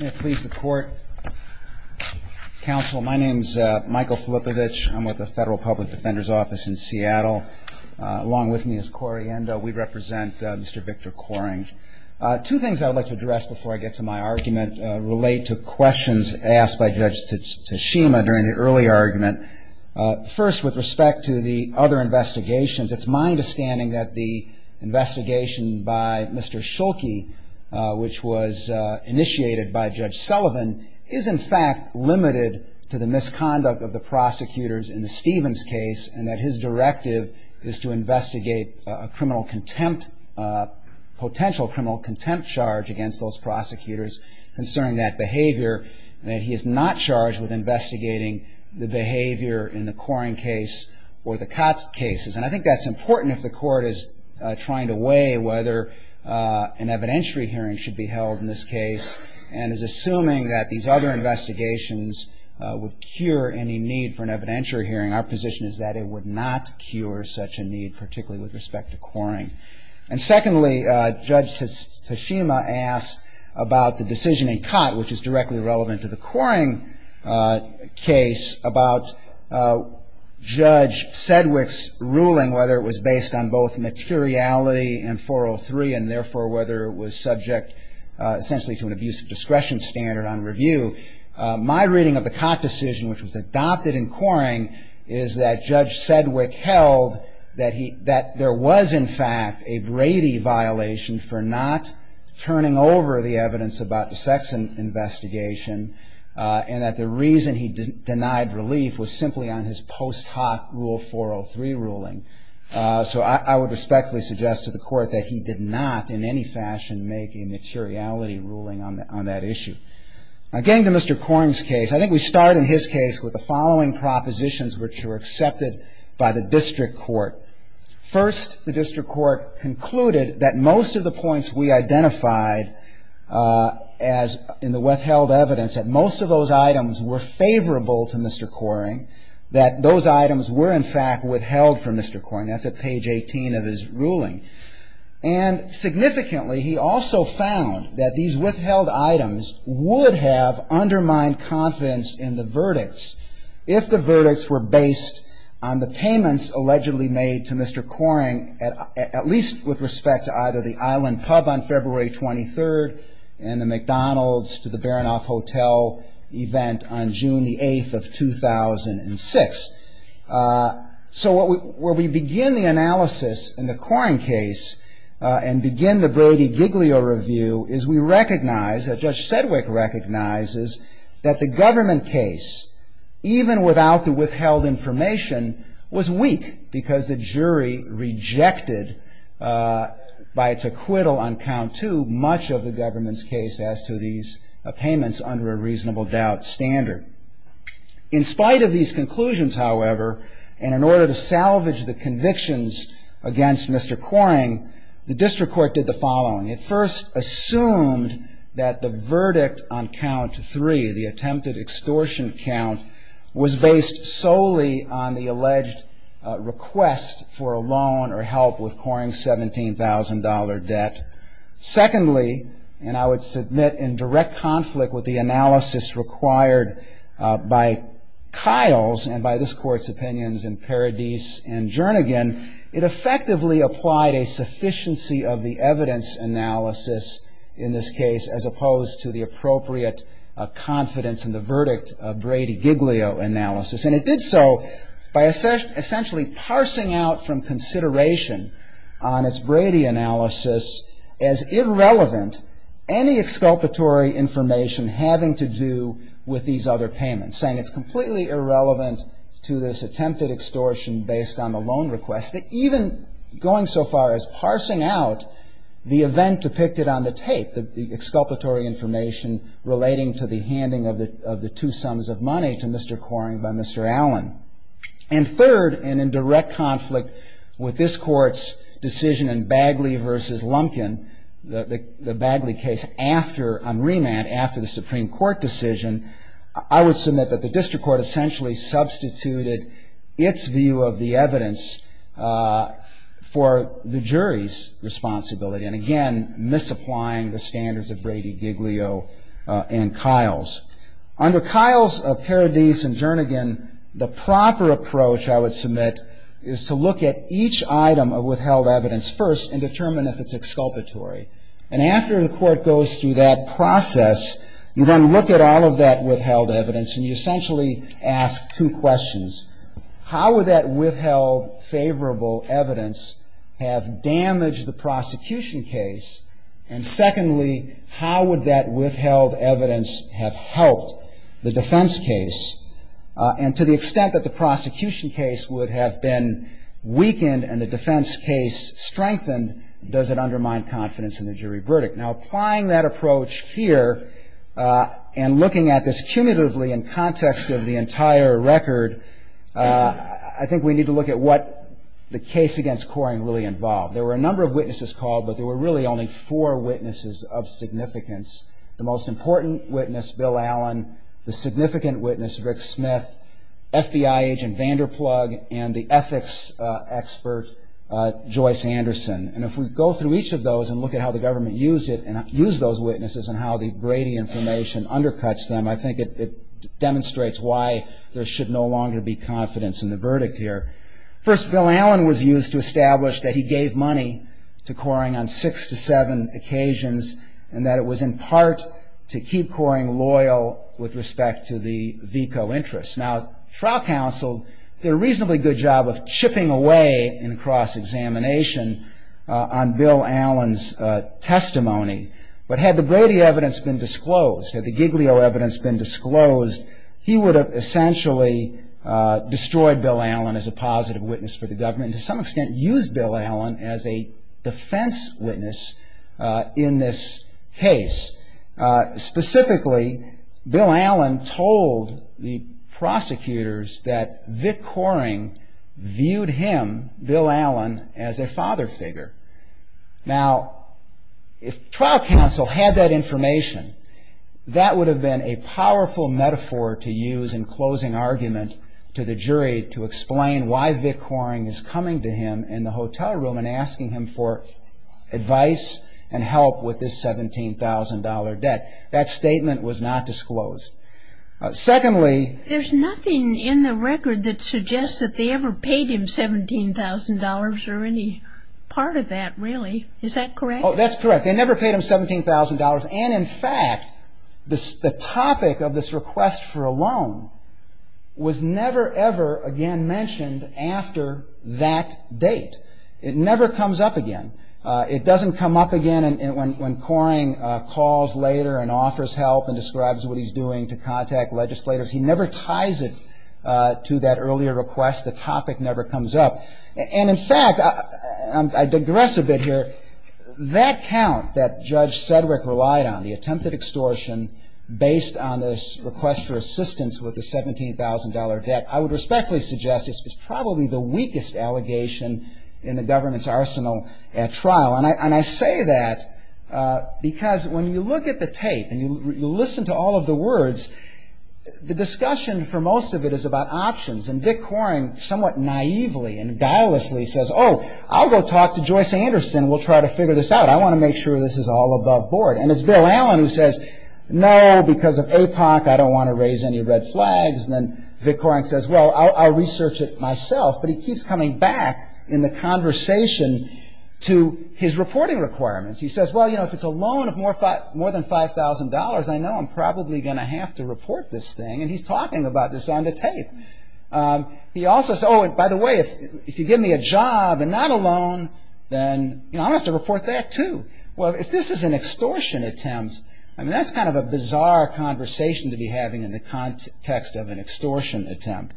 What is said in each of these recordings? May it please the court. Counsel, my name is Michael Filippovich. I'm with the Federal Public Defender's Office in Seattle. Along with me is Corey Endo. We represent Mr. Victor Kohring. Two things I would like to address before I get to my argument relate to questions asked by Judge Tsushima during the early argument. First, with respect to the other investigations, it's my understanding that the investigation by Mr. Schulke, which was initiated by Judge Sullivan, is in fact limited to the misconduct of the prosecutors in the Stevens case and that his directive is to investigate a criminal contempt, potential criminal contempt charge against those prosecutors concerning that behavior, and that he is not charged with investigating the behavior in the Kohring case or the Kotz cases. And I think that's important if the court is trying to weigh whether an evidentiary hearing should be held in this case and is assuming that these other investigations would cure any need for an evidentiary hearing. Our position is that it would not cure such a need, particularly with respect to Kohring. And secondly, Judge Tsushima asked about the decision in Kotz, which is directly relevant to the Kohring case, about Judge Sedgwick's ruling, whether it was based on both materiality and 403, and therefore whether it was subject essentially to an abuse of discretion standard on review. My reading of the Kotz decision, which was adopted in Kohring, is that Judge Sedgwick held that there was, in fact, a Brady violation for not turning over the evidence about the Sexson investigation and that the reason he denied relief was simply on his post hoc rule 403 ruling. So I would respectfully suggest to the court that he did not in any fashion make a materiality ruling on that issue. Getting to Mr. Kohring's case, I think we start in his case with the following propositions, which were accepted by the district court. First, the district court concluded that most of the points we identified in the withheld evidence, that most of those items were favorable to Mr. Kohring, that those items were, in fact, withheld from Mr. Kohring. That's at page 18 of his ruling. And significantly, he also found that these withheld items would have undermined confidence in the verdicts if the verdicts were based on the payments allegedly made to Mr. Kohring, at least with respect to either the Island Pub on February 23rd and the McDonald's to the Baranoff Hotel event on June the 8th of 2006. So where we begin the analysis in the Kohring case and begin the Brady-Giglio review is we recognize that Judge Sedgwick recognizes that the government case, even without the withheld information, was weak because the jury rejected by its acquittal on count two much of the government's case as to these payments under a reasonable doubt standard. In spite of these conclusions, however, and in order to salvage the convictions against Mr. Kohring, the district court did the following. It first assumed that the verdict on count three, the attempted extortion count, was based solely on the alleged request for a loan or help with Kohring's $17,000 debt. Secondly, and I would submit in direct conflict with the analysis required by Kyle's and by this court's opinions in Paradis and Jernigan, it effectively applied a sufficiency of the evidence analysis in this case as opposed to the appropriate confidence in the verdict of Brady-Giglio analysis. And it did so by essentially parsing out from consideration on its Brady analysis as irrelevant any exculpatory information having to do with these other payments, saying it's completely irrelevant to this attempted extortion based on the loan request, that even going so far as parsing out the event depicted on the tape, the exculpatory information relating to the handing of the two sums of money to Mr. Kohring by Mr. Allen. And third, and in direct conflict with this court's decision in Bagley v. Lumpkin, the Bagley case on remand after the Supreme Court decision, I would submit that the district court essentially substituted its view of the evidence for the jury's responsibility, and again, misapplying the standards of Brady-Giglio and Kyle's. Under Kyle's, Paradis, and Jernigan, the proper approach, I would submit, is to look at each item of withheld evidence first and determine if it's exculpatory. And after the court goes through that process, you then look at all of that withheld evidence and you essentially ask two questions. How would that withheld favorable evidence have damaged the prosecution case? And secondly, how would that withheld evidence have helped the defense case? And to the extent that the prosecution case would have been weakened and the defense case strengthened, does it undermine confidence in the jury verdict? Now, applying that approach here and looking at this cumulatively in context of the entire record, I think we need to look at what the case against Kohring really involved. There were a number of witnesses called, but there were really only four witnesses of significance. The most important witness, Bill Allen, the significant witness, Rick Smith, FBI agent Vanderplug, and the ethics expert, Joyce Anderson. And if we go through each of those and look at how the government used it and used those witnesses and how the Brady information undercuts them, I think it demonstrates why there should no longer be confidence in the verdict here. First, Bill Allen was used to establish that he gave money to Kohring on six to seven occasions and that it was in part to keep Kohring loyal with respect to the VICO interests. Now, trial counsel did a reasonably good job of chipping away in cross-examination on Bill Allen's testimony. But had the Brady evidence been disclosed, had the Giglio evidence been disclosed, he would have essentially destroyed Bill Allen as a positive witness for the government and to some extent used Bill Allen as a defense witness in this case. Specifically, Bill Allen told the prosecutors that Vic Kohring viewed him, Bill Allen, as a father figure. Now, if trial counsel had that information, that would have been a powerful metaphor to use in closing argument to the jury to explain why Vic Kohring is coming to him in the hotel room and asking him for advice and help with this $17,000 debt. That statement was not disclosed. Secondly- There's nothing in the record that suggests that they ever paid him $17,000 or any part of that, really. Is that correct? Oh, that's correct. They never paid him $17,000. And, in fact, the topic of this request for a loan was never, ever again mentioned after that date. It never comes up again. It doesn't come up again when Kohring calls later and offers help and describes what he's doing to contact legislators. He never ties it to that earlier request. The topic never comes up. And, in fact, I digress a bit here. That count that Judge Sedgwick relied on, the attempted extortion based on this request for assistance with the $17,000 debt, I would respectfully suggest is probably the weakest allegation in the government's arsenal at trial. And I say that because when you look at the tape and you listen to all of the words, the discussion for most of it is about options. And Vic Kohring somewhat naively and guilelessly says, oh, I'll go talk to Joyce Anderson. We'll try to figure this out. I want to make sure this is all above board. And it's Bill Allen who says, no, because of APOC, I don't want to raise any red flags. And then Vic Kohring says, well, I'll research it myself. But he keeps coming back in the conversation to his reporting requirements. He says, well, you know, if it's a loan of more than $5,000, I know I'm probably going to have to report this thing. And he's talking about this on the tape. He also says, oh, and by the way, if you give me a job and not a loan, then, you know, I'll have to report that too. Well, if this is an extortion attempt, I mean, that's kind of a bizarre conversation to be having in the context of an extortion attempt.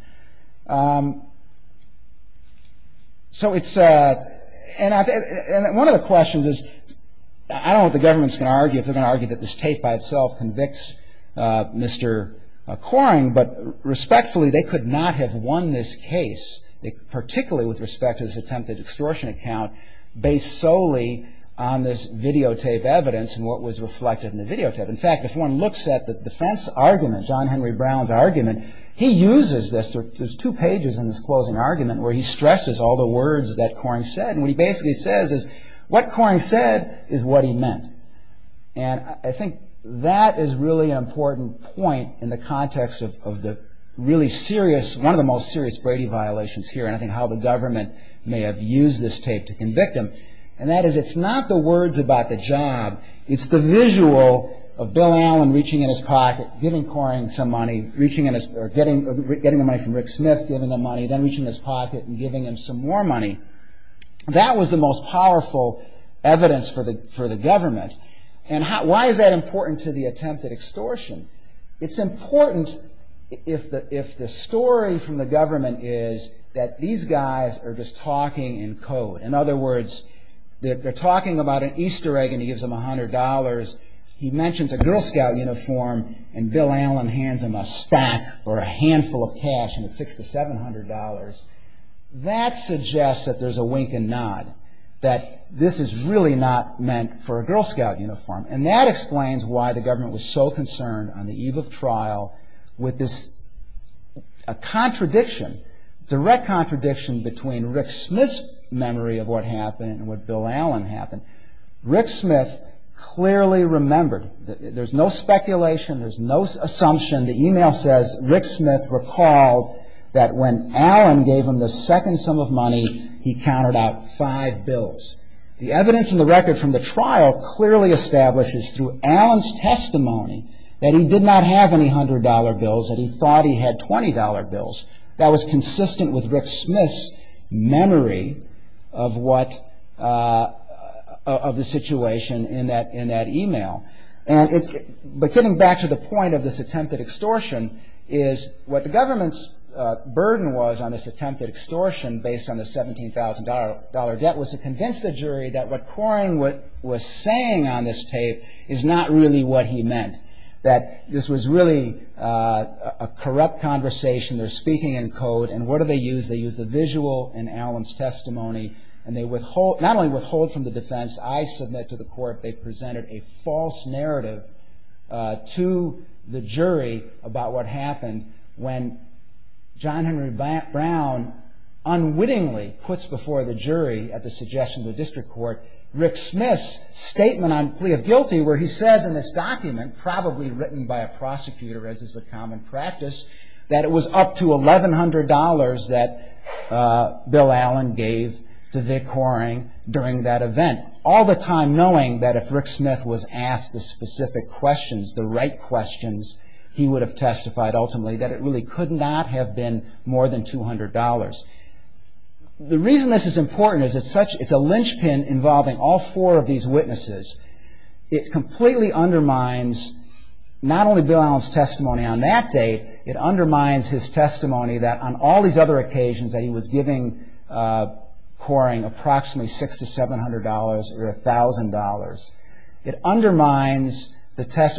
So it's ‑‑ and one of the questions is, I don't know what the government is going to argue, if they're going to argue that this tape by itself convicts Mr. Kohring. But respectfully, they could not have won this case, particularly with respect to this attempted extortion account, based solely on this videotape evidence and what was reflected in the videotape. In fact, if one looks at the defense argument, John Henry Brown's argument, he uses this. There's two pages in this closing argument where he stresses all the words that Kohring said. And what he basically says is, what Kohring said is what he meant. And I think that is really an important point in the context of the really serious, one of the most serious Brady violations here, and I think how the government may have used this tape to convict him. And that is, it's not the words about the job. It's the visual of Bill Allen reaching in his pocket, giving Kohring some money, getting the money from Rick Smith, giving him money, then reaching in his pocket and giving him some more money. That was the most powerful evidence for the government. And why is that important to the attempted extortion? It's important if the story from the government is that these guys are just talking in code. In other words, they're talking about an Easter egg and he gives them $100. He mentions a Girl Scout uniform and Bill Allen hands him a stack or a handful of cash and it's $600 to $700. That suggests that there's a wink and nod, that this is really not meant for a Girl Scout uniform. And that explains why the government was so concerned on the eve of trial with this contradiction, direct contradiction between Rick Smith's memory of what happened and what Bill Allen happened. Rick Smith clearly remembered. There's no speculation, there's no assumption. The email says, Rick Smith recalled that when Allen gave him the second sum of money, he counted out five bills. The evidence in the record from the trial clearly establishes through Allen's testimony that he did not have any $100 bills, that he thought he had $20 bills. That was consistent with Rick Smith's memory of the situation in that email. But getting back to the point of this attempted extortion is what the government's burden was on this attempted extortion based on the $17,000 debt was to convince the jury that what Coring was saying on this tape is not really what he meant. That this was really a corrupt conversation, they're speaking in code, and what do they use? They use the visual in Allen's testimony, and they withhold, not only withhold from the defense, I submit to the court they presented a false narrative to the jury about what happened when John Henry Brown unwittingly puts before the jury at the suggestion of the district court Rick Smith's statement on plea of guilty where he says in this document, probably written by a prosecutor as is the common practice, that it was up to $1,100 that Bill Allen gave to Vic Coring during that event. All the time knowing that if Rick Smith was asked the specific questions, the right questions, he would have testified ultimately that it really could not have been more than $200. The reason this is important is it's a linchpin involving all four of these witnesses. It completely undermines not only Bill Allen's testimony on that day, it undermines his testimony that on all these other occasions that he was giving Coring approximately $600 to $700 or $1,000. It undermines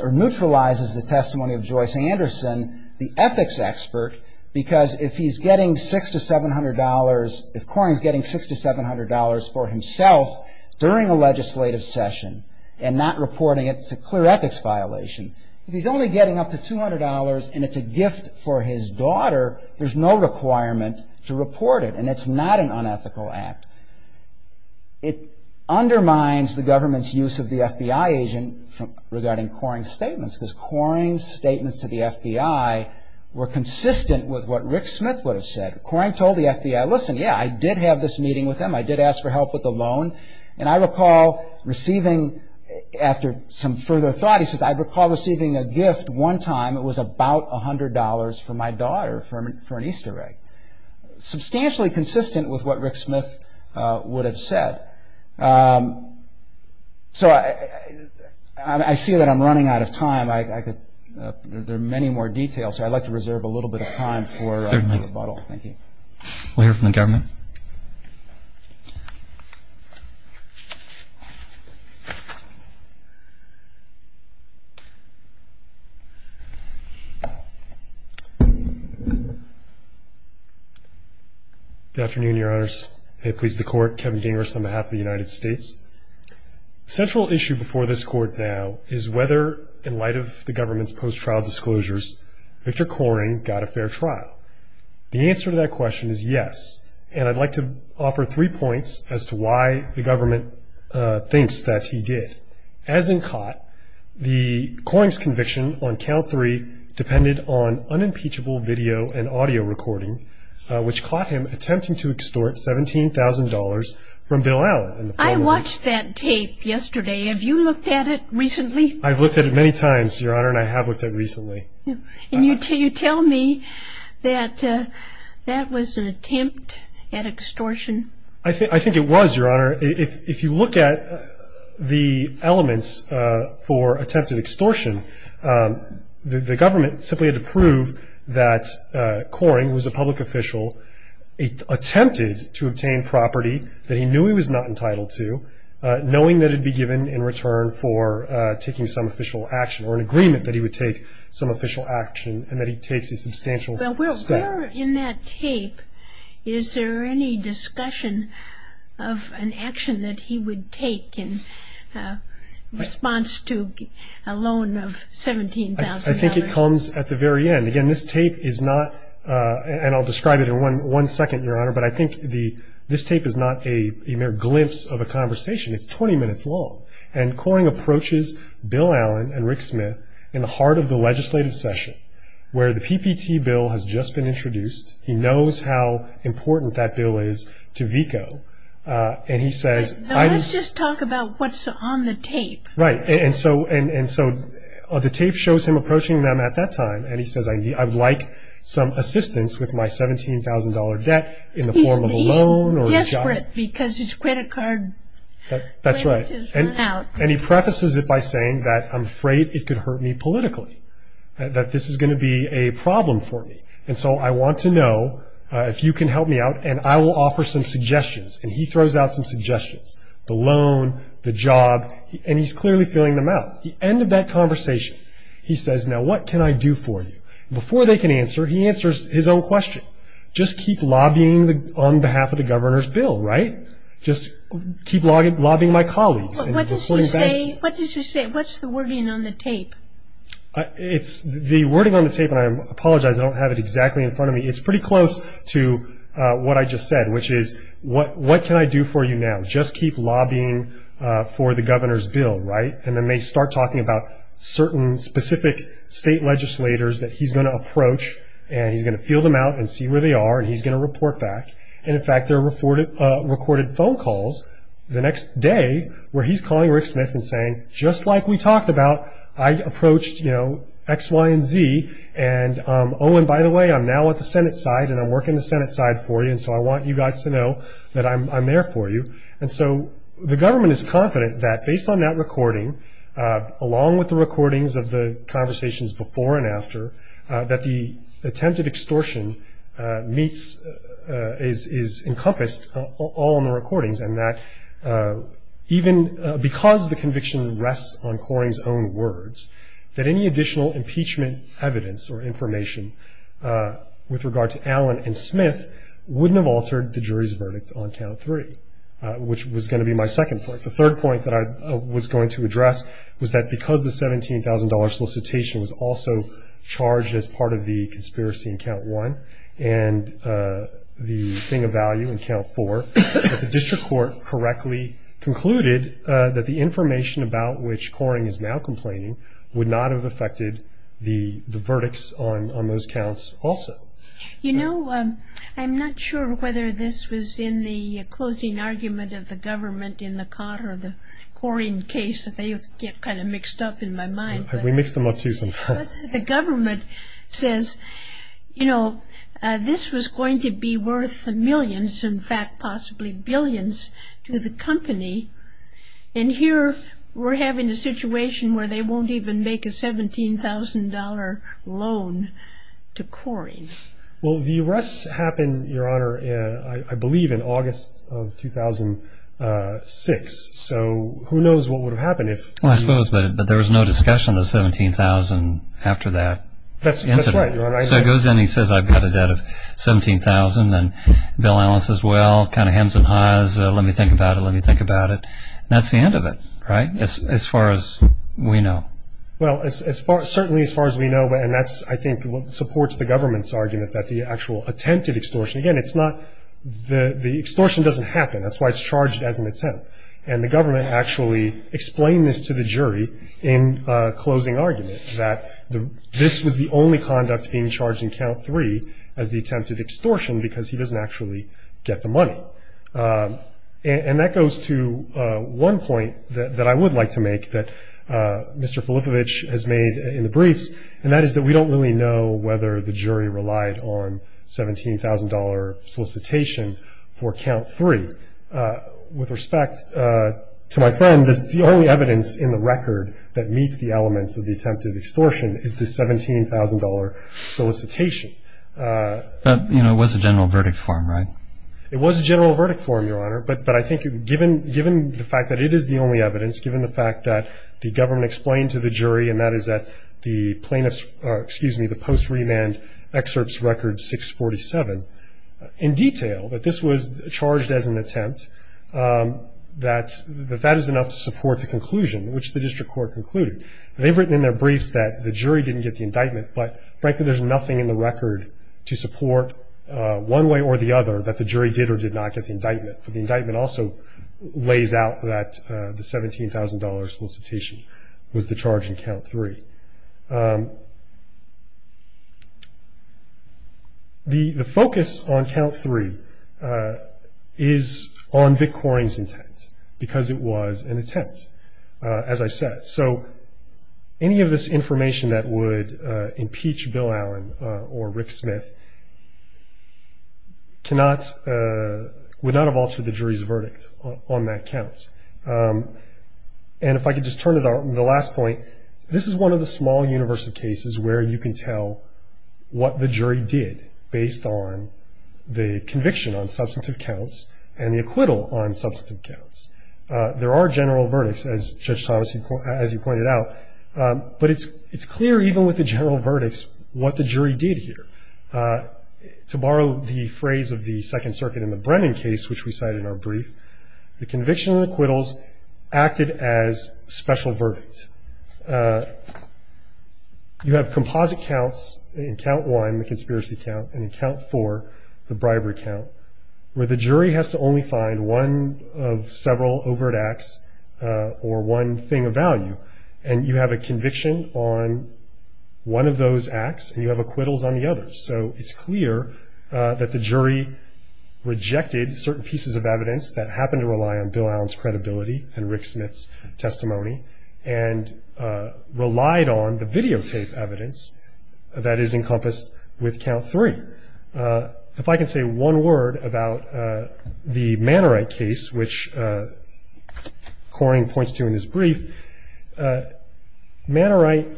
or neutralizes the testimony of Joyce Anderson, the ethics expert, because if he's getting $600 to $700, if Coring's getting $600 to $700 for himself during a legislative session and not reporting it, it's a clear ethics violation. If he's only getting up to $200 and it's a gift for his daughter, there's no requirement to report it and it's not an unethical act. It undermines the government's use of the FBI agent regarding Coring's statements because Coring's statements to the FBI were consistent with what Rick Smith would have said. Coring told the FBI, listen, yeah, I did have this meeting with him, I did ask for help with the loan, and I recall receiving, after some further thought, he says, I recall receiving a gift one time that was about $100 for my daughter for an Easter egg. Substantially consistent with what Rick Smith would have said. So I see that I'm running out of time. There are many more details, so I'd like to reserve a little bit of time for rebuttal. Thank you. We'll hear from the government. Good afternoon, Your Honors. May it please the Court, Kevin Gingras on behalf of the United States. Central issue before this Court now is whether, in light of the government's post-trial disclosures, Victor Coring got a fair trial. The answer to that question is yes, and I'd like to offer three points as to why the government thinks that he did. As in Cott, the Coring's conviction on count three depended on unimpeachable video and audio recording, which caught him attempting to extort $17,000 from Bill Allen. I watched that tape yesterday. Have you looked at it recently? I've looked at it many times, Your Honor, and I have looked at it recently. And you tell me that that was an attempt at extortion? I think it was, Your Honor. If you look at the elements for attempted extortion, the government simply had to prove that Coring, who was a public official, attempted to obtain property that he knew he was not entitled to, knowing that it would be given in return for taking some official action, or an agreement that he would take some official action and that he takes a substantial step. Well, where in that tape is there any discussion of an action that he would take in response to a loan of $17,000? I think it comes at the very end. Again, this tape is not, and I'll describe it in one second, Your Honor, but I think this tape is not a mere glimpse of a conversation. It's 20 minutes long. And Coring approaches Bill Allen and Rick Smith in the heart of the legislative session where the PPT bill has just been introduced. He knows how important that bill is to VICO. Now let's just talk about what's on the tape. Right, and so the tape shows him approaching them at that time, and he says, I would like some assistance with my $17,000 debt in the form of a loan. He's desperate because his credit card payment is running out. And he prefaces it by saying that I'm afraid it could hurt me politically, that this is going to be a problem for me. And so I want to know if you can help me out, and I will offer some suggestions. And he throws out some suggestions, the loan, the job, and he's clearly filling them out. The end of that conversation, he says, now what can I do for you? Before they can answer, he answers his own question. Just keep lobbying on behalf of the governor's bill, right? Just keep lobbying my colleagues. What does he say? What's the wording on the tape? The wording on the tape, and I apologize, I don't have it exactly in front of me. It's pretty close to what I just said, which is, what can I do for you now? Just keep lobbying for the governor's bill, right? And then they start talking about certain specific state legislators that he's going to approach, and he's going to fill them out and see where they are, and he's going to report back. And, in fact, there are recorded phone calls the next day where he's calling Rick Smith and saying, just like we talked about, I approached, you know, X, Y, and Z, and, oh, and by the way, I'm now at the Senate side and I'm working the Senate side for you, and so I want you guys to know that I'm there for you. And so the government is confident that based on that recording, along with the recordings of the conversations before and after, that the attempted extortion meets, is encompassed all in the recordings, and that even because the conviction rests on Coring's own words, that any additional impeachment evidence or information with regard to Allen and Smith wouldn't have altered the jury's verdict on count three, which was going to be my second point. The third point that I was going to address was that because the $17,000 solicitation was also charged as part of the conspiracy in count one and the thing of value in count four, that the district court correctly concluded that the information about which Coring is now complaining would not have affected the verdicts on those counts also. You know, I'm not sure whether this was in the closing argument of the government in the car or the Coring case, they get kind of mixed up in my mind. We mix them up too sometimes. The government says, you know, this was going to be worth millions, in fact possibly billions to the company, and here we're having a situation where they won't even make a $17,000 loan to Coring. Well, the arrests happened, Your Honor, I believe in August of 2006. So who knows what would have happened if... Well, I suppose, but there was no discussion of the $17,000 after that incident. That's right, Your Honor. So he goes in and he says, I've got a debt of $17,000, and Bill Allen says, well, kind of hems and haws, let me think about it, let me think about it. And that's the end of it, right, as far as we know? Well, certainly as far as we know, and that's I think what supports the government's argument that the actual attempted extortion, again, it's not, the extortion doesn't happen. That's why it's charged as an attempt. And the government actually explained this to the jury in closing argument, that this was the only conduct being charged in count three as the attempted extortion because he doesn't actually get the money. And that goes to one point that I would like to make that Mr. Filippovich has made in the briefs, and that is that we don't really know whether the jury relied on $17,000 solicitation for count three. With respect to my friend, the only evidence in the record that meets the elements of the attempted extortion is the $17,000 solicitation. But, you know, it was a general verdict form, right? It was a general verdict form, Your Honor, but I think given the fact that it is the only evidence, given the fact that the government explained to the jury, and that is that the plaintiff's, excuse me, the post remand excerpt's record 647, in detail that this was charged as an attempt, that that is enough to support the conclusion, which the district court concluded. They've written in their briefs that the jury didn't get the indictment, but frankly there's nothing in the record to support one way or the other that the jury did or did not get the indictment. But the indictment also lays out that the $17,000 solicitation was the charge in count three. The focus on count three is on Vic Koren's intent, because it was an attempt, as I said. So any of this information that would impeach Bill Allen or Rick Smith cannot, would not have altered the jury's verdict on that count. And if I could just turn to the last point, this is one of the small universe of cases where you can tell what the jury did, based on the conviction on substantive counts and the acquittal on substantive counts. There are general verdicts, as Judge Thomas, as you pointed out, but it's clear even with the general verdicts what the jury did here. To borrow the phrase of the Second Circuit in the Brennan case, which we cite in our brief, the conviction and acquittals acted as special verdicts. You have composite counts in count one, the conspiracy count, and in count four, the bribery count, where the jury has to only find one of several overt acts or one thing of value. And you have a conviction on one of those acts, and you have acquittals on the other. So it's clear that the jury rejected certain pieces of evidence that happened to rely on Bill Allen's credibility and Rick Smith's testimony and relied on the videotape evidence that is encompassed with count three. If I can say one word about the Mannerite case, which Coring points to in his brief. Mannerite,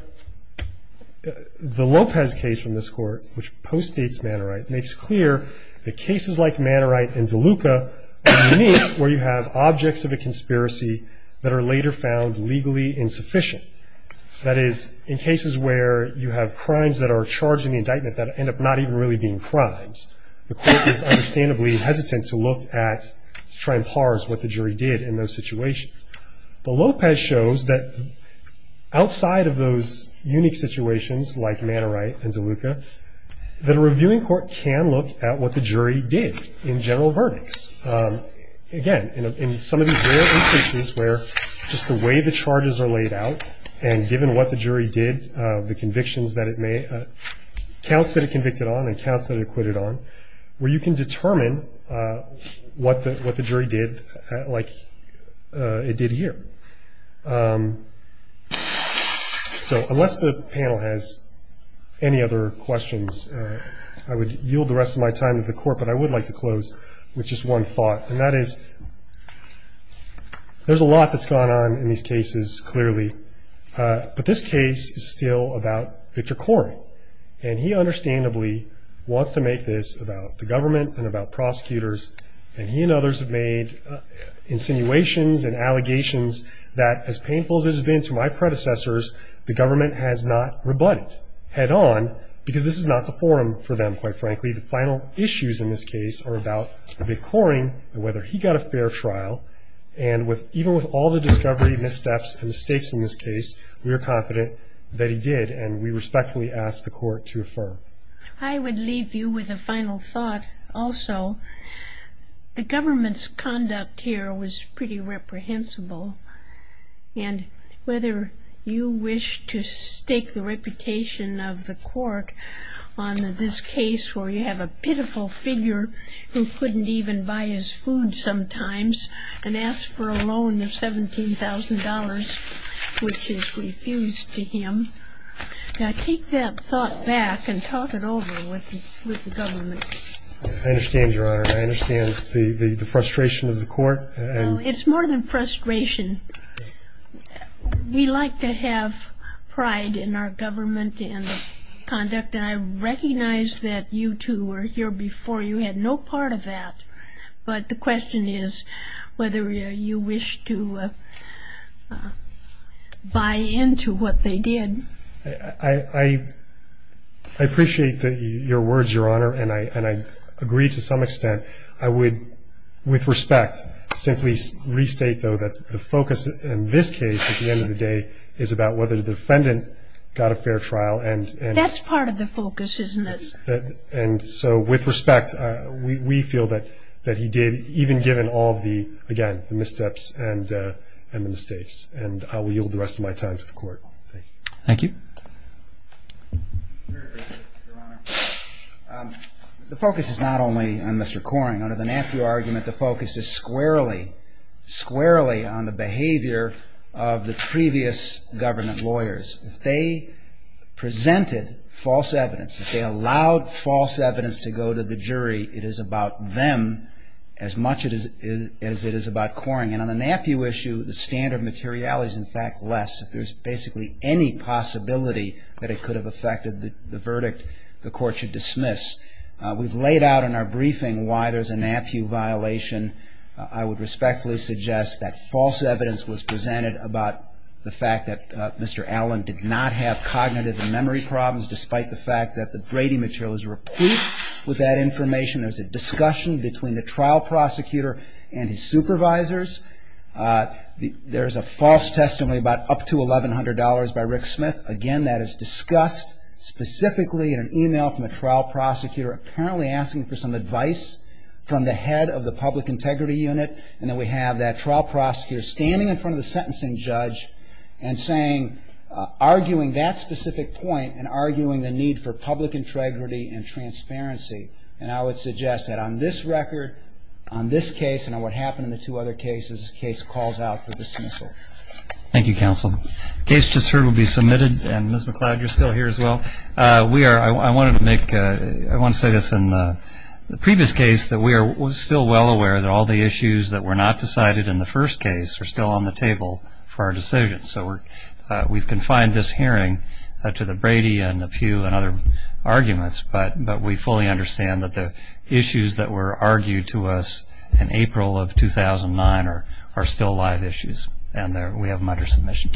the Lopez case from this court, which postdates Mannerite, makes clear that cases like Mannerite and DeLuca are unique, where you have objects of a conspiracy that are later found legally insufficient. That is, in cases where you have crimes that are charged in the indictment that end up not even really being crimes, the court is understandably hesitant to look at, to try and parse what the jury did in those situations. But Lopez shows that outside of those unique situations like Mannerite and DeLuca, that a reviewing court can look at what the jury did in general verdicts. Again, in some of these rare instances where just the way the charges are laid out and given what the jury did, the convictions that it made, counts that it convicted on and counts that it acquitted on, where you can determine what the jury did like it did here. So unless the panel has any other questions, I would yield the rest of my time to the court, but I would like to close with just one thought, and that is, there's a lot that's gone on in these cases, clearly, but this case is still about Victor Koren. And he understandably wants to make this about the government and about prosecutors, and he and others have made insinuations and allegations that, as painful as it has been to my predecessors, the government has not rebutted head on, because this is not the forum for them, quite frankly. The final issues in this case are about Victor Koren and whether he got a fair trial, and even with all the discovery, missteps, and mistakes in this case, we are confident that he did, and we respectfully ask the court to affirm. I would leave you with a final thought also. The government's conduct here was pretty reprehensible, and whether you wish to stake the reputation of the court on this case where you have a pitiful figure who couldn't even buy his food sometimes and ask for a loan of $17,000, which is refused to him. Now, take that thought back and talk it over with the government. I understand, Your Honor. I understand the frustration of the court. It's more than frustration. We like to have pride in our government and conduct, and I recognize that you two were here before. You had no part of that. But the question is whether you wish to buy into what they did. I appreciate your words, Your Honor, and I agree to some extent. I would, with respect, simply restate, though, that the focus in this case at the end of the day is about whether the defendant got a fair trial. That's part of the focus, isn't it? And so, with respect, we feel that he did, even given all of the, again, missteps and mistakes. And I will yield the rest of my time to the court. Thank you. Thank you. I very appreciate it, Your Honor. The focus is not only on Mr. Coring. Under the Napier argument, the focus is squarely, squarely on the behavior of the previous government lawyers. If they presented false evidence, if they allowed false evidence to go to the jury, it is about them as much as it is about Coring. And on the Napier issue, the standard of materiality is, in fact, less. If there's basically any possibility that it could have affected the verdict, the court should dismiss. We've laid out in our briefing why there's a Napier violation. I would respectfully suggest that false evidence was presented about the fact that Mr. Allen did not have cognitive and memory problems, despite the fact that the Brady material is replete with that information. There's a discussion between the trial prosecutor and his supervisors. There's a false testimony about up to $1,100 by Rick Smith. Again, that is discussed specifically in an e-mail from a trial prosecutor, apparently asking for some advice from the head of the public integrity unit. And then we have that trial prosecutor standing in front of the sentencing judge and saying, arguing that specific point and arguing the need for public integrity and transparency. And I would suggest that on this record, on this case, and on what happened in the two other cases, this case calls out for dismissal. Thank you, counsel. The case just heard will be submitted, and Ms. McCloud, you're still here as well. I want to say this. In the previous case, we were still well aware that all the issues that were not decided in the first case are still on the table for our decision. So we've confined this hearing to the Brady and the Pew and other arguments, but we fully understand that the issues that were argued to us in April of 2009 are still live issues, and we have them under submission. Thank you very much.